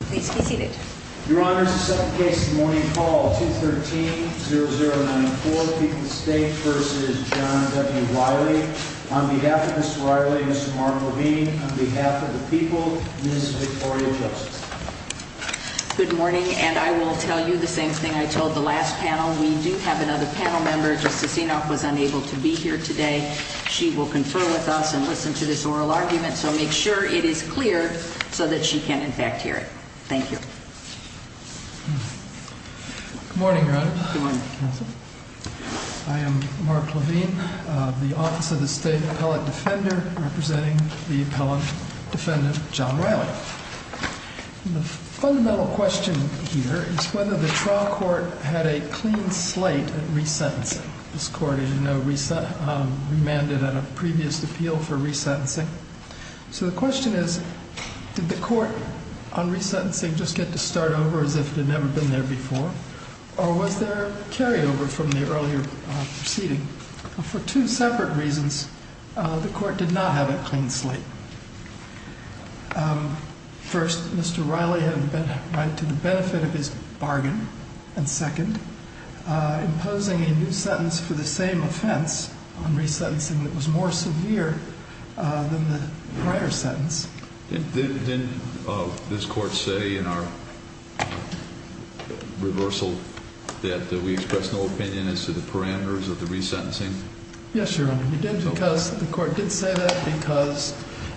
Good morning and I will tell you the same thing I told the last panel. We do have another panel member. Justice Enoch was unable to be here today. She will confer with us and we will have a panel member. I am Mark Levine, the Office of the State Appellate Defender representing the appellate defendant John Riley. The fundamental question here is whether the trial court had a clean slate at resentencing. This court, as you know, remanded at a previous appeal for resentencing. So the question is, did the court on resentencing just get to start over as if it had never been there before? Or was there a carryover from the earlier proceeding? For two separate reasons, the court did not have a clean slate. First, Mr. Riley had a right to the benefit of his bargain. And second, imposing a new sentence for the same offense on resentencing that was more severe than the prior sentence. Didn't this court say in our reversal that we express no opinion as to the parameters of the resentencing? Yes, Your Honor, we did because the court did say that because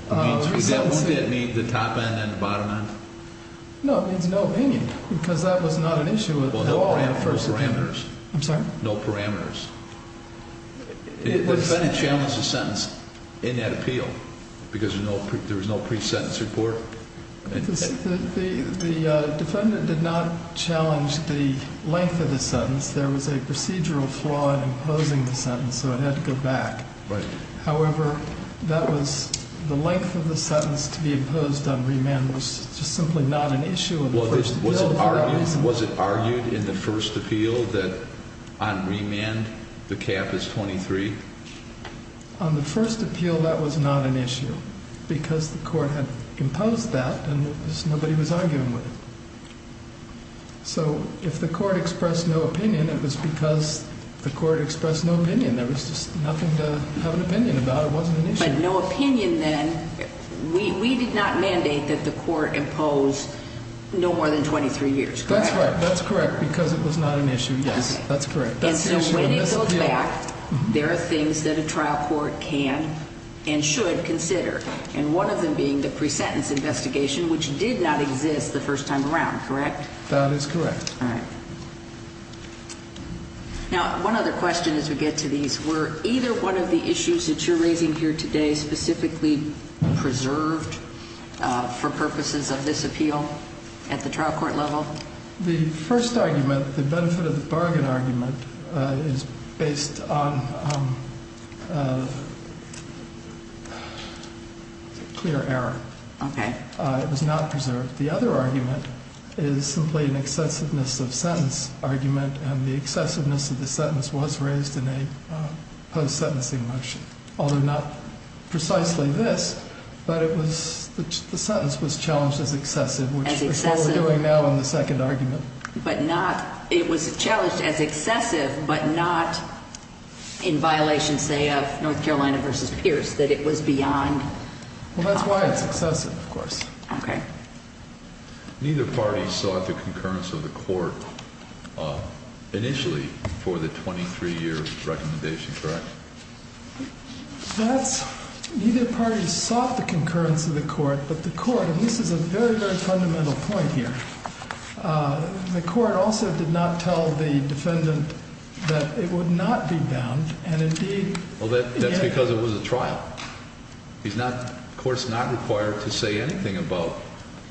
the resentencing Won't that mean the top end and the bottom end? No, it means no opinion because that was not an issue with the law at first. Well, no parameters. I'm sorry? No parameters. The defendant challenged the sentence in that appeal because there was no pre-sentence report. The defendant did not challenge the length of the sentence. There was a procedural flaw in imposing the sentence, so it had to go back. Right. However, that was the length of the sentence to be imposed on remand was just simply not an issue in the first appeal. On remand, the cap is 23? On the first appeal, that was not an issue because the court had imposed that and nobody was arguing with it. So if the court expressed no opinion, it was because the court expressed no opinion. There was just nothing to have an opinion about. It wasn't an issue. But no opinion then, we did not mandate that the court impose no more than 23 years, correct? That's right. That's correct because it was not an issue. Yes, that's correct. And so when it goes back, there are things that a trial court can and should consider, and one of them being the pre-sentence investigation, which did not exist the first time around, correct? That is correct. All right. Now, one other question as we get to these, were either one of the issues that you're raising here today specifically preserved for purposes of this appeal at the trial court level? The first argument, the benefit of the bargain argument, is based on clear error. Okay. It was not preserved. The other argument is simply an excessiveness of sentence argument and the excessiveness of the sentence was raised in a post-sentencing motion, although not precisely this, but the sentence was challenged as excessive, which is what we're doing now in the second argument. But not, it was challenged as excessive, but not in violation, say, of North Carolina versus Pierce, that it was beyond. Well, that's why it's excessive, of course. Okay. Neither party sought the concurrence of the court initially for the 23-year recommendation, correct? That's, neither party sought the concurrence of the court, but the court, and this is a very, very fundamental point here, the court also did not tell the defendant that it would not be bound, and indeed... Well, that's because it was a trial. He's not, the court's not required to say anything about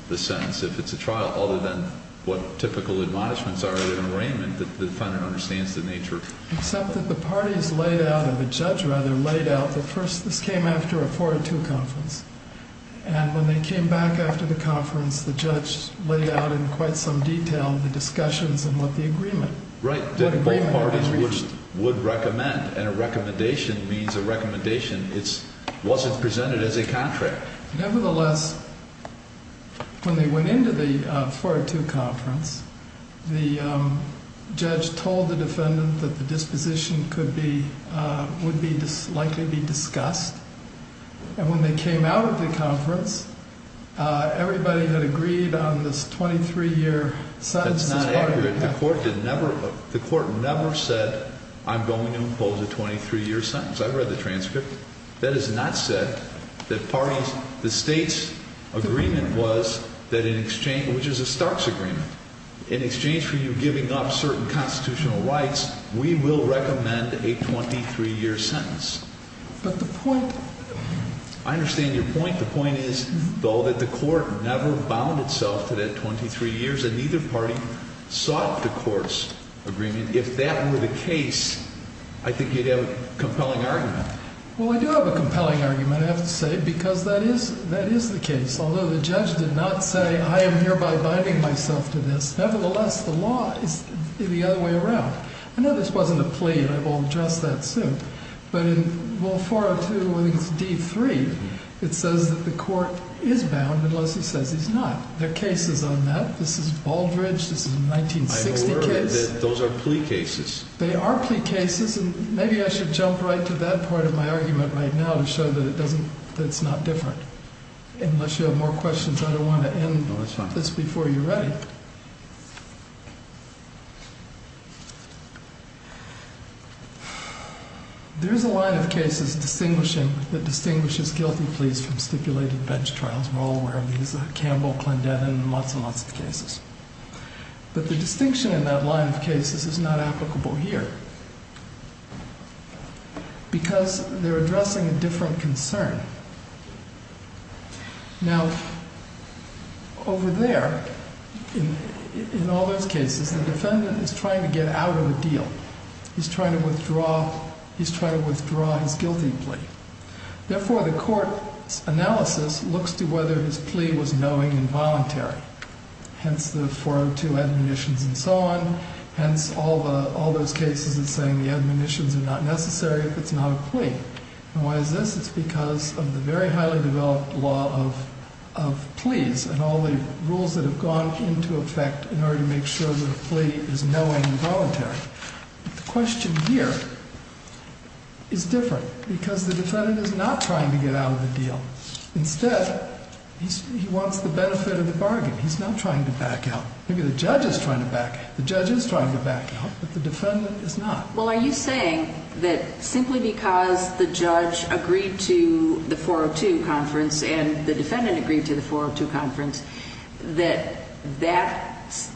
the sentence if it's a trial, other than what typical admonishments are in an arraignment that the defendant understands the nature. Except that the parties laid out, or the judge rather, laid out the first, this came after a 402 conference, and when they came back after the conference, the judge laid out in quite some detail the discussions and what the agreement... Right, that both parties would recommend, and a recommendation means a recommendation. It wasn't presented as a contract. Nevertheless, when they went into the 402 conference, the judge told the defendant that the disposition could be, would be, likely be discussed, and when they came out of the conference, everybody had agreed on this 23-year sentence. That's not accurate. The court did never, the court never said, I'm going to impose a 23-year sentence. I read the transcript. That is not said that parties, the state's agreement was that in exchange, which is a Stark's agreement, in exchange for you giving up certain constitutional rights, we will recommend a 23-year sentence. But the point... I understand your point. The point is, though, that the court never bound itself to that 23 years, and neither party sought the court's agreement. If that were the case, I think you'd have a compelling argument. Well, I do have a compelling argument, I have to say, because that is, that is the case. Although the judge did not say, I am hereby binding myself to this, nevertheless, the law is the other way around. I know this wasn't a plea, and I will address that soon, but in Rule 402, I think it's D3, it says that the court is bound unless he says he's not. There are cases on that. This is Baldridge. This is a 1960 case. I'm aware that those are plea cases. They are plea cases, and maybe I should jump right to that part of my argument right now to show that it doesn't, that it's not different. Unless you have more questions, I don't want to end this before you're ready. There is a line of cases distinguishing, that distinguishes guilty pleas from stipulated bench trials. We're all aware of these, Campbell, Clendett, and lots and lots of cases. But the distinction in that line of cases is not applicable here, because they're addressing a different concern. Now, over there, in all those cases, the defendant is trying to get out of a deal. He's trying to withdraw, he's trying to withdraw his guilty plea. Therefore, the court's analysis looks to whether his plea was knowing and voluntary. Hence, the 402 admonitions and so on. Hence, all those cases that say the admonitions are not necessary if it's not a plea. And why is this? It's because of the very highly developed law of pleas and all the rules that have gone into effect in order to make sure that a plea is knowing and voluntary. The question here is different, because the defendant is not trying to get out of the deal. Instead, he wants the benefit of the bargain. He's not trying to back out. Maybe the judge is trying to back out. The judge is trying to back out, but the defendant is not. Well, are you saying that simply because the judge agreed to the 402 conference, and the defendant agreed to the 402 conference, that that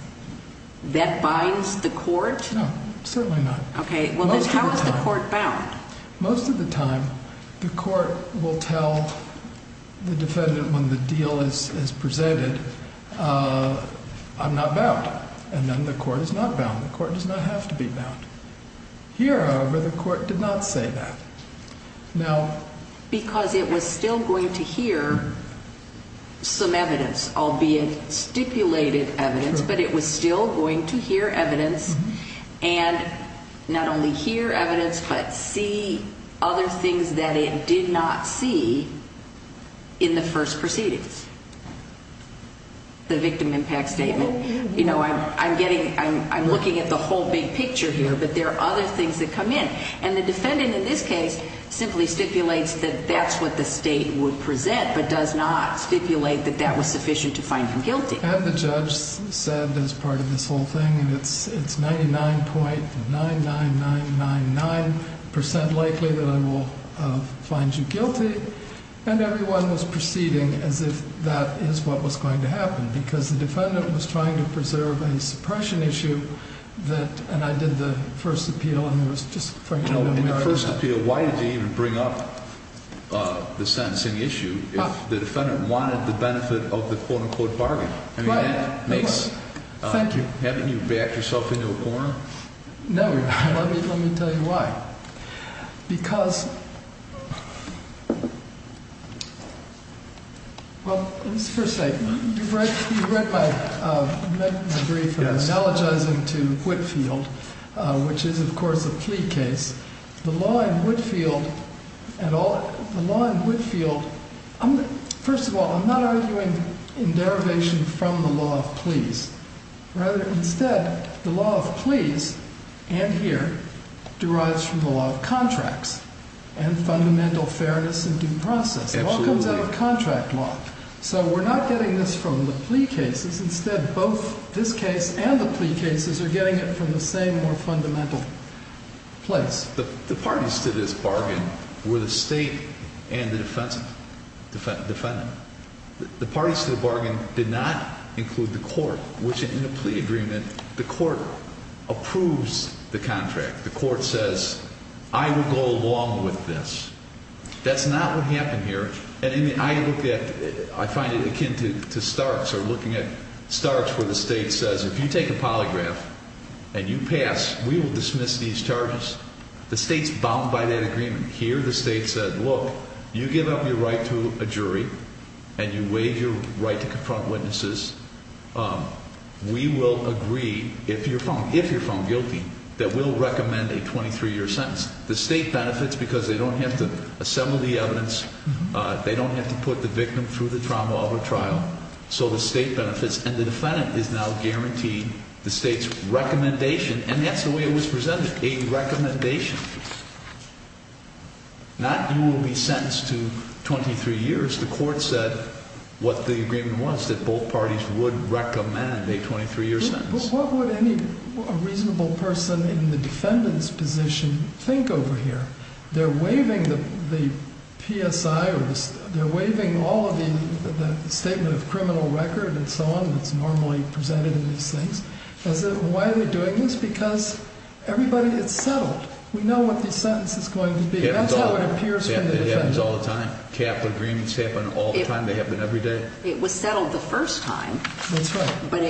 binds the court? No, certainly not. Okay. Well, then how is the court bound? Most of the time, the court will tell the defendant when the deal is presented, I'm not bound. And then the court is not bound. The court does not have to be bound. Here, however, the court did not say that. Because it was still going to hear some evidence, albeit stipulated evidence, but it was still going to hear evidence and not only hear evidence but see other things that it did not see in the first proceedings, the victim impact statement. I'm looking at the whole big picture here, but there are other things that come in. And the defendant in this case simply stipulates that that's what the state would present but does not stipulate that that was sufficient to find him guilty. And the judge said, as part of this whole thing, and it's 99.99999% likely that I will find you guilty, and everyone was proceeding as if that is what was going to happen because the defendant was trying to preserve a suppression issue that, and I did the first appeal and it was just frankly no merit in that. In the first appeal, why did they even bring up the sentencing issue if the defendant wanted the benefit of the quote-unquote bargain? Thank you. Haven't you backed yourself into a corner? No. Let me tell you why. Because, well, let's first say, you've read my brief and I'm analogizing to Whitfield, which is, of course, a plea case. The law in Whitfield, first of all, I'm not arguing in derivation from the law of pleas. Rather, instead, the law of pleas, and here, derives from the law of contracts and fundamental fairness in due process. It all comes out of contract law. So we're not getting this from the plea cases. Instead, both this case and the plea cases are getting it from the same more fundamental place. The parties to this bargain were the State and the defendant. The parties to the bargain did not include the court, which in the plea agreement, the court approves the contract. The court says, I will go along with this. That's not what happened here. I find it akin to Starks or looking at Starks where the State says, if you take a polygraph and you pass, we will dismiss these charges. The State's bound by that agreement. Here, the State said, look, you give up your right to a jury and you waive your right to confront witnesses. We will agree, if you're found guilty, that we'll recommend a 23-year sentence. The State benefits because they don't have to assemble the evidence. They don't have to put the victim through the trauma of a trial. So the State benefits, and the defendant is now guaranteed the State's recommendation, and that's the way it was presented, a recommendation. Not you will be sentenced to 23 years. The court said what the agreement was, that both parties would recommend a 23-year sentence. But what would a reasonable person in the defendant's position think over here? They're waiving the PSI, or they're waiving all of the statement of criminal record and so on that's normally presented in these things. Why are they doing this? Because everybody, it's settled. We know what the sentence is going to be. That's how it appears from the defendant's point of view. It happens all the time. Cap agreements happen all the time. They happen every day. It was settled the first time. That's right. But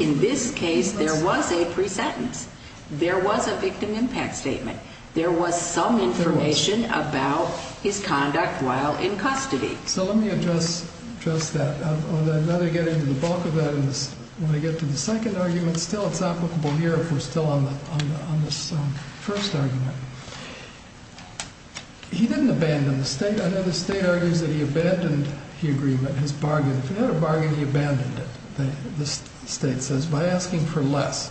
in this case, there was a pre-sentence. There was a victim impact statement. There was some information about his conduct while in custody. So let me address that. Now that I get into the bulk of that, I want to get to the second argument. Still, it's applicable here if we're still on this first argument. He didn't abandon the State. I know the State argues that he abandoned the agreement, his bargain. If he had a bargain, he abandoned it, the State says, by asking for less.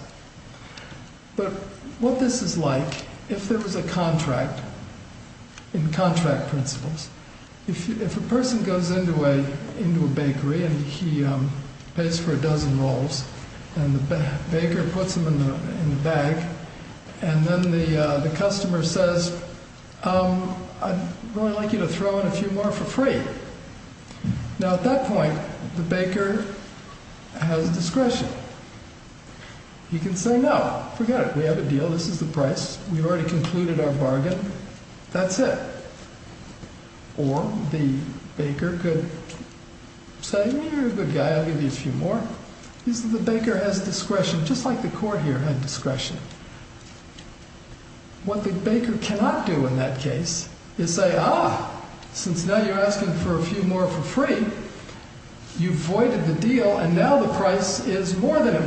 But what this is like, if there was a contract, in contract principles, if a person goes into a bakery and he pays for a dozen rolls and the baker puts them in the bag and then the customer says, I'd really like you to throw in a few more for free. Now at that point, the baker has discretion. He can say, no, forget it. We have a deal. This is the price. We've already concluded our bargain. That's it. Or the baker could say, you're a good guy. I'll give you a few more. The baker has discretion, just like the court here had discretion. What the baker cannot do in that case is say, Ah, since now you're asking for a few more for free, you've voided the deal, and now the price is more than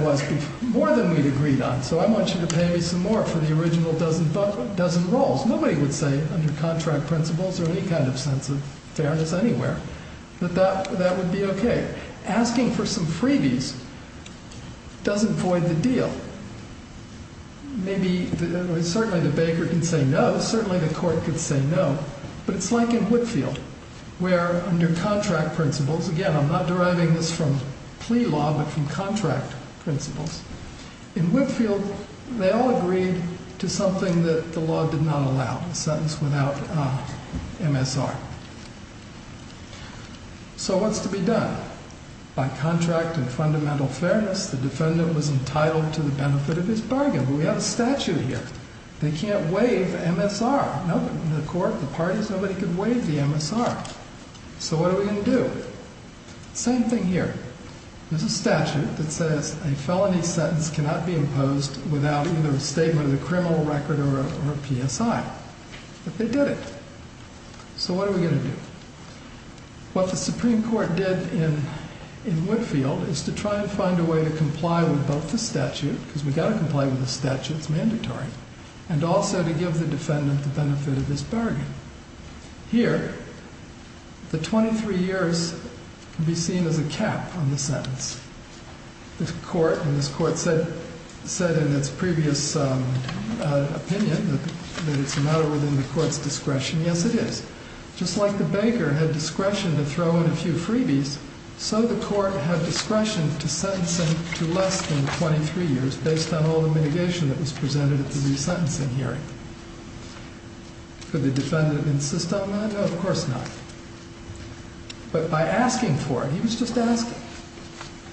we'd agreed on, so I want you to pay me some more for the original dozen rolls. Nobody would say, under contract principles or any kind of sense of fairness anywhere, that that would be okay. Asking for some freebies doesn't void the deal. Certainly the baker can say no. Certainly the court could say no. But it's like in Whitfield, where under contract principles, again, I'm not deriving this from plea law but from contract principles. In Whitfield, they all agreed to something that the law did not allow, a sentence without MSR. So what's to be done? By contract and fundamental fairness, the defendant was entitled to the benefit of his bargain. But we have a statute here. They can't waive MSR. The court, the parties, nobody could waive the MSR. So what are we going to do? Same thing here. There's a statute that says a felony sentence cannot be imposed without either a statement of the criminal record or a PSI. But they did it. So what are we going to do? What the Supreme Court did in Whitfield is to try and find a way to comply with both the statute, because we've got to comply with the statute, it's mandatory, and also to give the defendant the benefit of his bargain. Here, the 23 years can be seen as a cap on the sentence. The court, and this court said in its previous opinion that it's a matter within the court's discretion. Yes, it is. Just like the baker had discretion to throw in a few freebies, so the court had discretion to sentence him to less than 23 years based on all the mitigation that was presented at the resentencing hearing. Could the defendant insist on that? No, of course not. But by asking for it, he was just asking.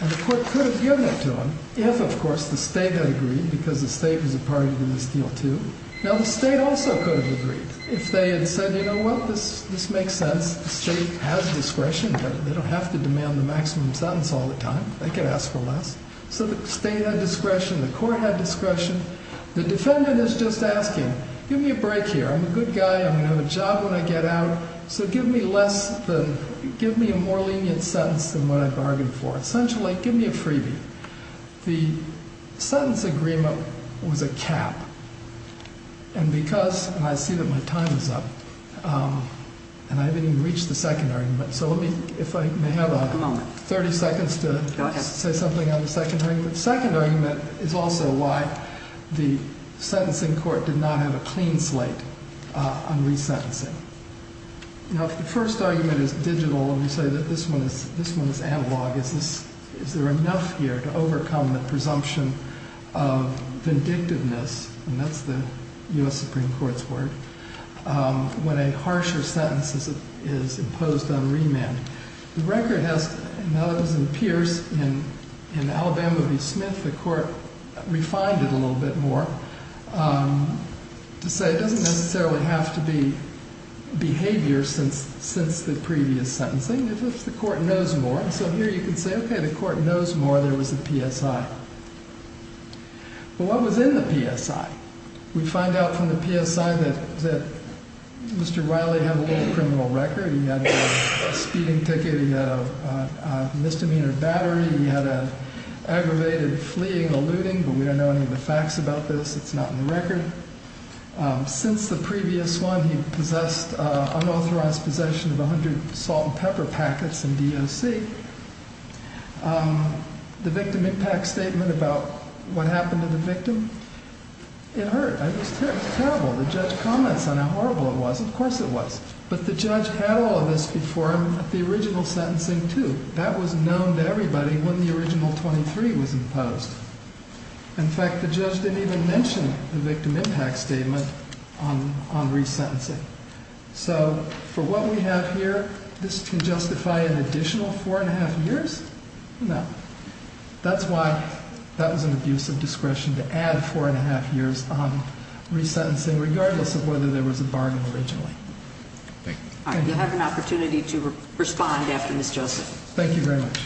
And the court could have given it to him if, of course, the state had agreed, because the state was a party to this deal too. Now, the state also could have agreed. If they had said, you know what, this makes sense. The state has discretion. They don't have to demand the maximum sentence all the time. They could ask for less. So the state had discretion. The court had discretion. The defendant is just asking, give me a break here. I'm a good guy. I'm going to have a job when I get out, so give me a more lenient sentence than what I bargained for. Essentially, give me a freebie. The sentence agreement was a cap. And because, and I see that my time is up, and I haven't even reached the second argument, so let me, if I may have 30 seconds to say something on the second argument. The second argument is also why the sentencing court did not have a clean slate on resentencing. Now, if the first argument is digital and we say that this one is analog, is there enough here to overcome the presumption of vindictiveness, and that's the U.S. Supreme Court's word, when a harsher sentence is imposed on remand. The record has, and that was in Pierce, in Alabama v. Smith, the court refined it a little bit more to say it doesn't necessarily have to be behavior since the previous sentencing. It's just the court knows more. So here you can say, okay, the court knows more. There was a PSI. But what was in the PSI? We find out from the PSI that Mr. Wiley had a little criminal record. He had a speeding ticket. He had a misdemeanor battery. He had an aggravated fleeing, eluding, but we don't know any of the facts about this. It's not in the record. Since the previous one, he possessed unauthorized possession of 100 salt and pepper packets in DOC. The victim impact statement about what happened to the victim, it hurt. It was terrible. The judge comments on how horrible it was. Of course it was. But the judge had all of this before the original sentencing, too. That was known to everybody when the original 23 was imposed. In fact, the judge didn't even mention the victim impact statement on resentencing. So for what we have here, this can justify an additional four and a half years? No. That's why that was an abuse of discretion to add four and a half years on resentencing, regardless of whether there was a bargain originally. Thank you. You have an opportunity to respond after Ms. Joseph. Thank you very much.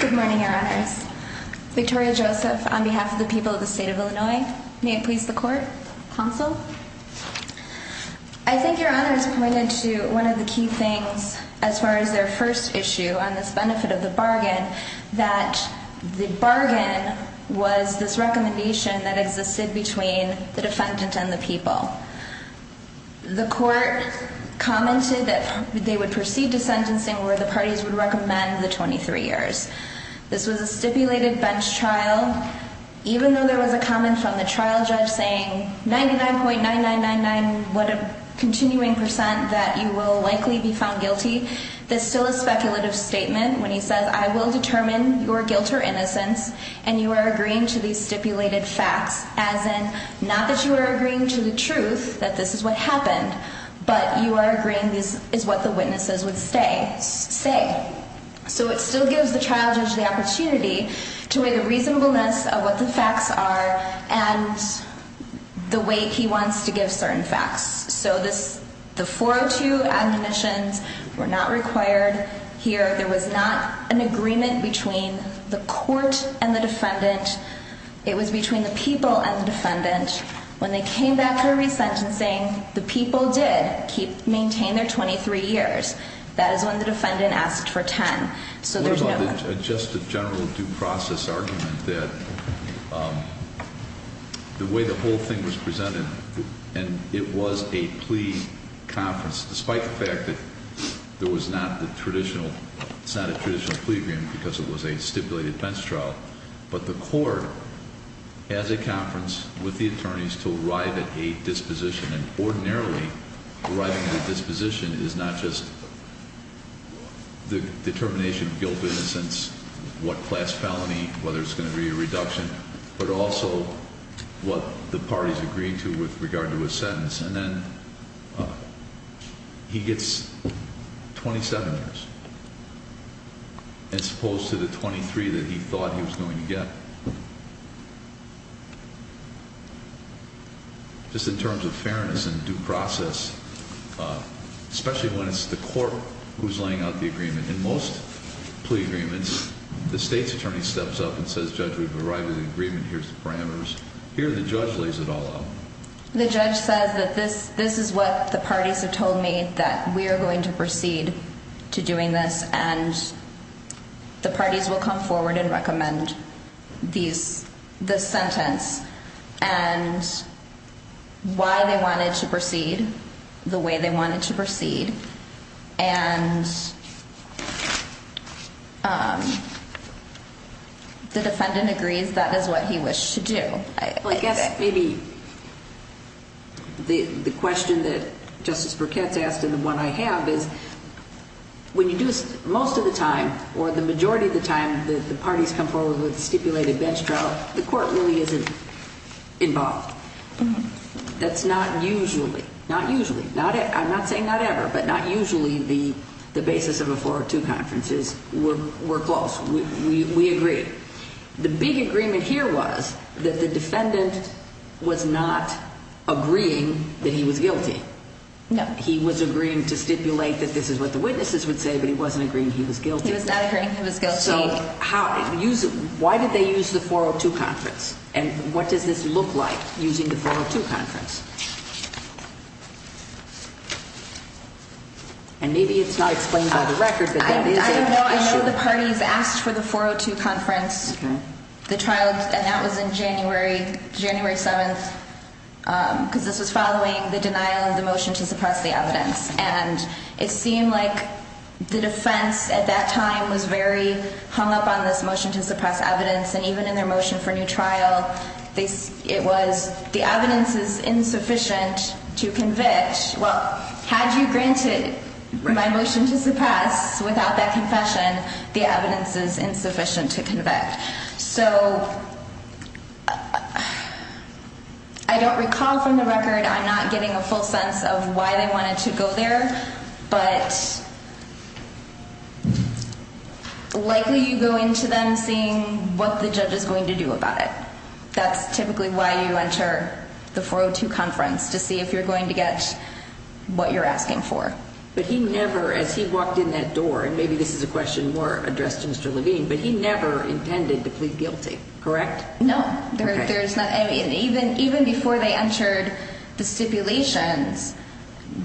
Good morning, Your Honors. Victoria Joseph on behalf of the people of the state of Illinois. May it please the court? Counsel? I think Your Honors pointed to one of the key things as far as their first issue on this benefit of the bargain, that the bargain was this recommendation that existed between the defendant and the people. The court commented that they would proceed to sentencing where the parties would recommend the 23 years. This was a stipulated bench trial. Even though there was a comment from the trial judge saying 99.9999, what a continuing percent that you will likely be found guilty, there's still a speculative statement when he says, I will determine your guilt or innocence and you are agreeing to these stipulated facts, as in not that you are agreeing to the truth that this is what happened, but you are agreeing this is what the witnesses would say. So it still gives the trial judge the opportunity to weigh the reasonableness of what the facts are and the way he wants to give certain facts. So the 402 admonitions were not required here. There was not an agreement between the court and the defendant. It was between the people and the defendant. When they came back for resentencing, the people did maintain their 23 years. That is when the defendant asked for 10. So there's no- Just a general due process argument that the way the whole thing was presented, and it was a plea conference despite the fact that there was not the traditional, it's not a traditional plea agreement because it was a stipulated bench trial, but the court has a conference with the attorneys to arrive at a disposition, and ordinarily arriving at a disposition is not just the determination of guilt, innocence, what class felony, whether it's going to be a reduction, but also what the parties agreed to with regard to a sentence. And then he gets 27 years as opposed to the 23 that he thought he was going to get. Just in terms of fairness and due process, especially when it's the court who's laying out the agreement. In most plea agreements, the state's attorney steps up and says, Judge, we've arrived at an agreement. Here's the parameters. Here, the judge lays it all out. The judge says that this is what the parties have told me, that we are going to proceed to doing this, and the parties will come forward and recommend. This sentence and why they wanted to proceed the way they wanted to proceed, and the defendant agrees that is what he wished to do. I guess maybe the question that Justice Burkett's asked and the one I have is, when you do this most of the time, or the majority of the time, the parties come forward with a stipulated bench trial, the court really isn't involved. That's not usually. Not usually. I'm not saying not ever, but not usually the basis of a 402 conference is we're close. We agree. The big agreement here was that the defendant was not agreeing that he was guilty. No. He was agreeing to stipulate that this is what the witnesses would say, but he wasn't agreeing he was guilty. He was not agreeing he was guilty. So why did they use the 402 conference, and what does this look like using the 402 conference? And maybe it's not explained by the record, but that is an issue. I know the parties asked for the 402 conference, the trial, and that was in January 7th because this was following the denial of the motion to suppress the evidence, and it seemed like the defense at that time was very hung up on this motion to suppress evidence, and even in their motion for new trial, it was the evidence is insufficient to convict. Well, had you granted my motion to suppress without that confession, the evidence is insufficient to convict. So I don't recall from the record I'm not getting a full sense of why they wanted to go there, but likely you go into them seeing what the judge is going to do about it. That's typically why you enter the 402 conference, to see if you're going to get what you're asking for. But he never, as he walked in that door, and maybe this is a question more addressed to Mr. Levine, but he never intended to plead guilty, correct? No. Even before they entered the stipulations,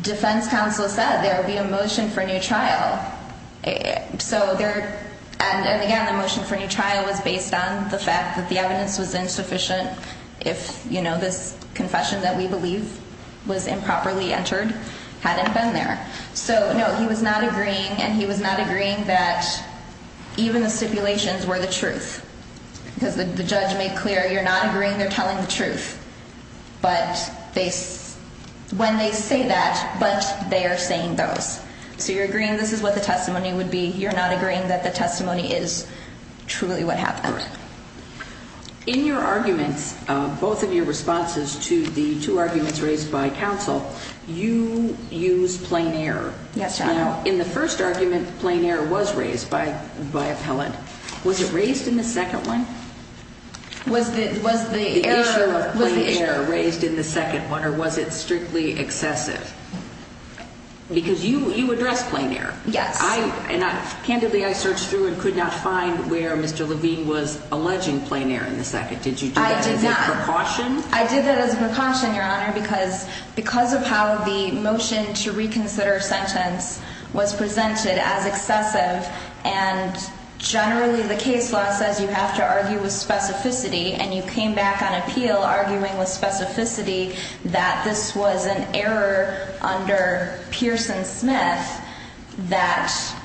defense counsel said there would be a motion for new trial. And again, the motion for new trial was based on the fact that the evidence was insufficient if this confession that we believe was improperly entered hadn't been there. So, no, he was not agreeing, and he was not agreeing that even the stipulations were the truth, because the judge made clear you're not agreeing they're telling the truth when they say that, but they are saying those. So you're agreeing this is what the testimony would be. You're not agreeing that the testimony is truly what happened. Correct. In your arguments, both of your responses to the two arguments raised by counsel, you used plain error. Yes, Your Honor. Now, in the first argument, plain error was raised by appellant. Was it raised in the second one? Was the issue of plain error raised in the second one, or was it strictly excessive? Because you addressed plain error. Yes. And candidly, I searched through and could not find where Mr. Levine was alleging plain error in the second. Did you do that as a precaution? I did not. I did that as a precaution, Your Honor, because of how the motion to reconsider a sentence was presented as excessive, and generally the case law says you have to argue with specificity, and you came back on appeal arguing with specificity that this was an error under Pearson-Smith, that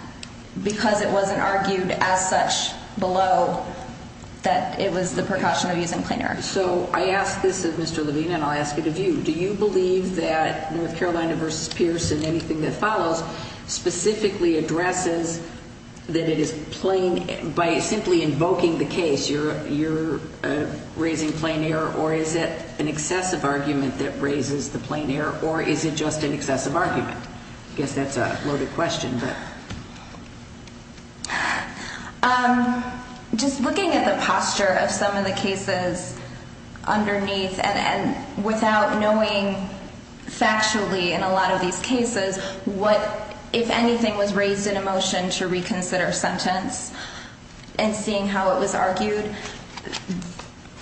because it wasn't argued as such below, that it was the precaution of using plain error. So I ask this of Mr. Levine, and I'll ask it of you. Do you believe that North Carolina v. Pearson, anything that follows, specifically addresses that it is plain, by simply invoking the case, you're raising plain error, or is it an excessive argument that raises the plain error, or is it just an excessive argument? I guess that's a loaded question, but. Just looking at the posture of some of the cases underneath, and without knowing factually in a lot of these cases what, if anything, was raised in a motion to reconsider a sentence, and seeing how it was argued,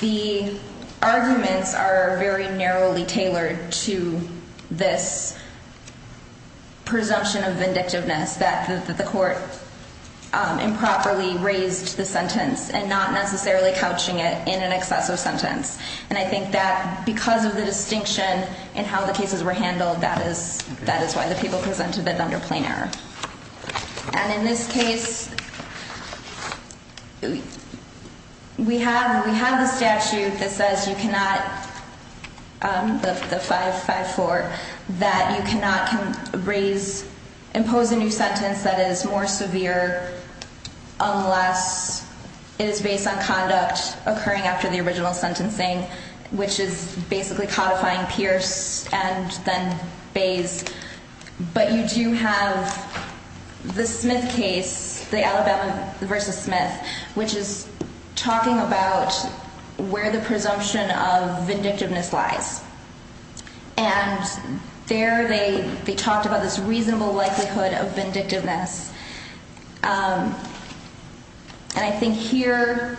the arguments are very narrowly tailored to this presumption of vindictiveness, that the court improperly raised the sentence and not necessarily couching it in an excessive sentence. And I think that because of the distinction in how the cases were handled, that is why the people presented it under plain error. And in this case, we have the statute that says you cannot, the 554, that you cannot impose a new sentence that is more severe unless it is based on conduct occurring after the original sentencing, which is basically codifying Pierce and then Bays. But you do have the Smith case, the Alabama v. Smith, which is talking about where the presumption of vindictiveness lies. And there they talked about this reasonable likelihood of vindictiveness. And I think here,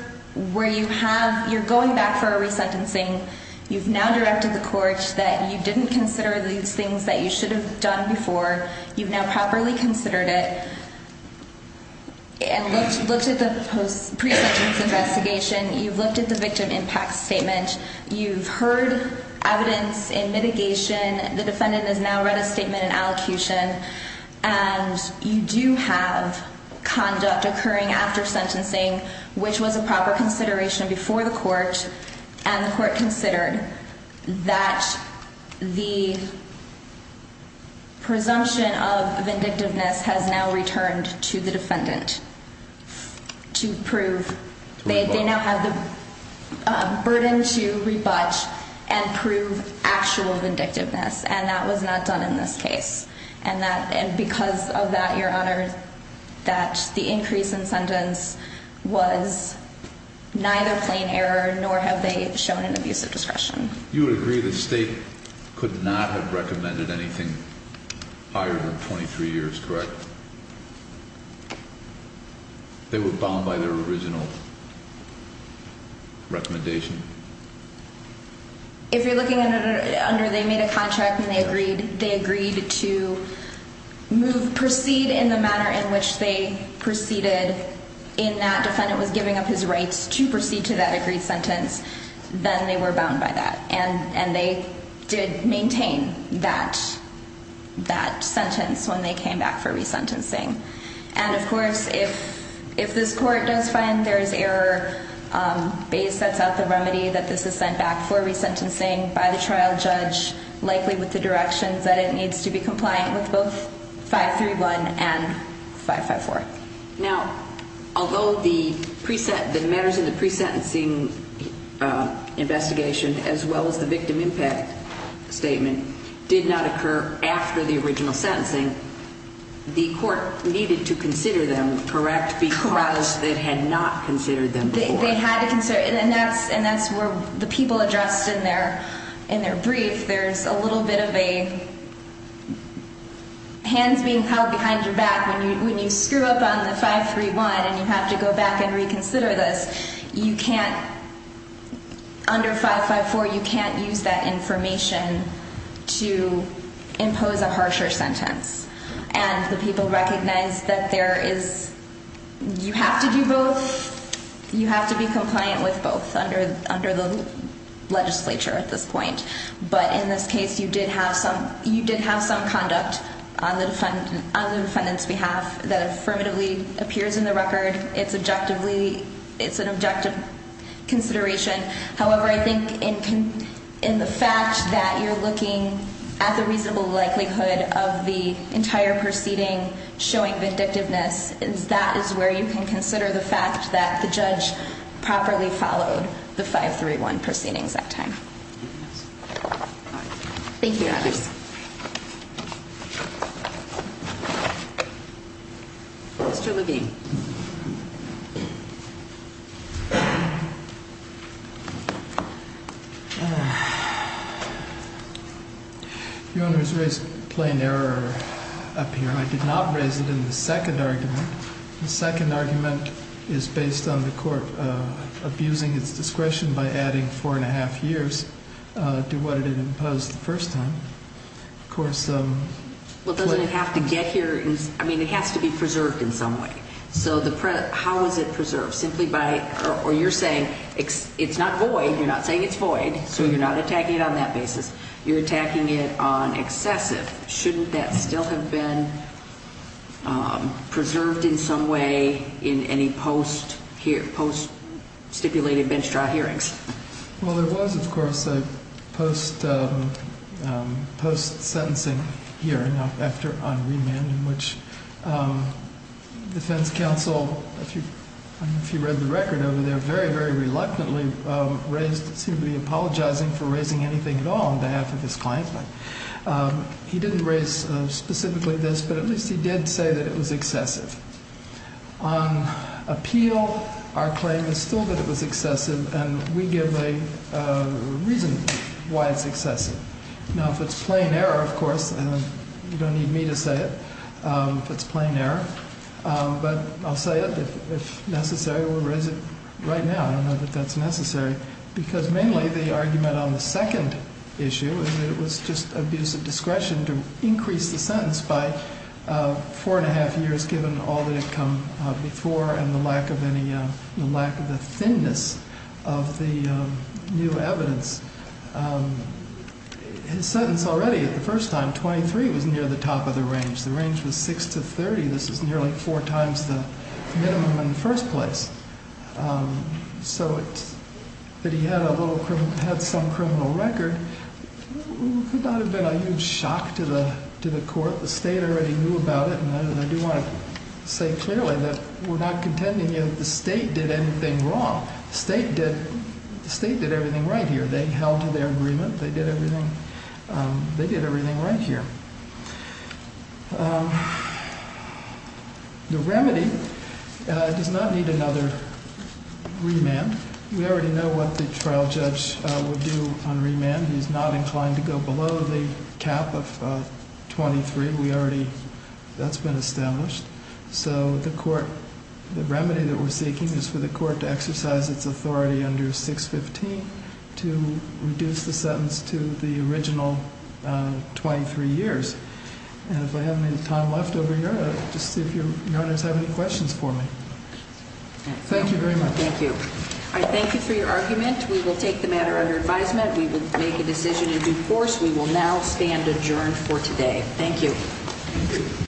where you have, you're going back for a resentencing, you've now directed the court that you didn't consider these things that you should have done before. You've now properly considered it and looked at the pre-sentence investigation. You've looked at the victim impact statement. You've heard evidence in mitigation. The defendant has now read a statement in allocution. And you do have conduct occurring after sentencing, which was a proper consideration before the court. And the court considered that the presumption of vindictiveness has now returned to the defendant to prove. They now have the burden to rebut and prove actual vindictiveness. And that was not done in this case. And because of that, Your Honor, that the increase in sentence was neither plain error nor have they shown an abuse of discretion. You would agree that the state could not have recommended anything higher than 23 years, correct? They were bound by their original recommendation. If you're looking under they made a contract and they agreed to proceed in the manner in which they proceeded in that defendant was giving up his rights to proceed to that agreed sentence, then they were bound by that. And they did maintain that sentence when they came back for resentencing. And, of course, if this court does find there is error, Bays sets out the remedy that this is sent back for resentencing by the trial judge, likely with the directions that it needs to be compliant with both 531 and 554. Now, although the matters in the pre-sentencing investigation as well as the victim impact statement did not occur after the original sentencing, the court needed to consider them, correct, because they had not considered them before. They had to consider. And that's where the people addressed in their brief. There's a little bit of a hands being held behind your back when you screw up on the 531 and you have to go back and reconsider this. You can't, under 554, you can't use that information to impose a harsher sentence. And the people recognized that there is, you have to do both. You have to be compliant with both under the legislature at this point. But in this case, you did have some conduct on the defendant's behalf that affirmatively appears in the record. It's an objective consideration. However, I think in the fact that you're looking at the reasonable likelihood of the entire proceeding showing vindictiveness, that is where you can consider the fact that the judge properly followed the 531 proceedings that time. Thank you, Your Honors. Mr. Levine. Your Honors raised plain error up here. I did not raise it in the second argument. The second argument is based on the court abusing its discretion by adding four and a half years to what it had imposed the first time. Well, doesn't it have to get here? I mean, it has to be preserved in some way. So how is it preserved? Simply by, or you're saying it's not void. You're not saying it's void, so you're not attacking it on that basis. You're attacking it on excessive. Shouldn't that still have been preserved in some way in any post-stipulated bench trial hearings? Well, there was, of course, a post-sentencing hearing on remand in which defense counsel, if you read the record over there, very, very reluctantly seemed to be apologizing for raising anything at all on behalf of his client. He didn't raise specifically this, but at least he did say that it was excessive. On appeal, our claim is still that it was excessive, and we give a reason why it's excessive. Now, if it's plain error, of course, you don't need me to say it. If it's plain error. But I'll say it, if necessary, we'll raise it right now. I don't know that that's necessary. Because mainly the argument on the second issue is that it was just abuse of discretion to increase the sentence by four and a half years, given all that had come before and the lack of any, the lack of the thinness of the new evidence. His sentence already at the first time, 23, was near the top of the range. The range was 6 to 30. This is nearly four times the minimum in the first place. So that he had a little criminal, had some criminal record, could not have been a huge shock to the, to the court. The state already knew about it. And I do want to say clearly that we're not contending that the state did anything wrong. The state did, the state did everything right here. They held to their agreement. They did everything. They did everything right here. The remedy does not need another remand. We already know what the trial judge will do on remand. He's not inclined to go below the cap of 23. We already, that's been established. So the court, the remedy that we're seeking is for the court to exercise its authority under 615 to reduce the sentence to the original 23 years. And if I have any time left over here, just see if your, your honors have any questions for me. Thank you very much. Thank you. I thank you for your argument. We will take the matter under advisement. We will make a decision in due course. We will now stand adjourned for today. Thank you.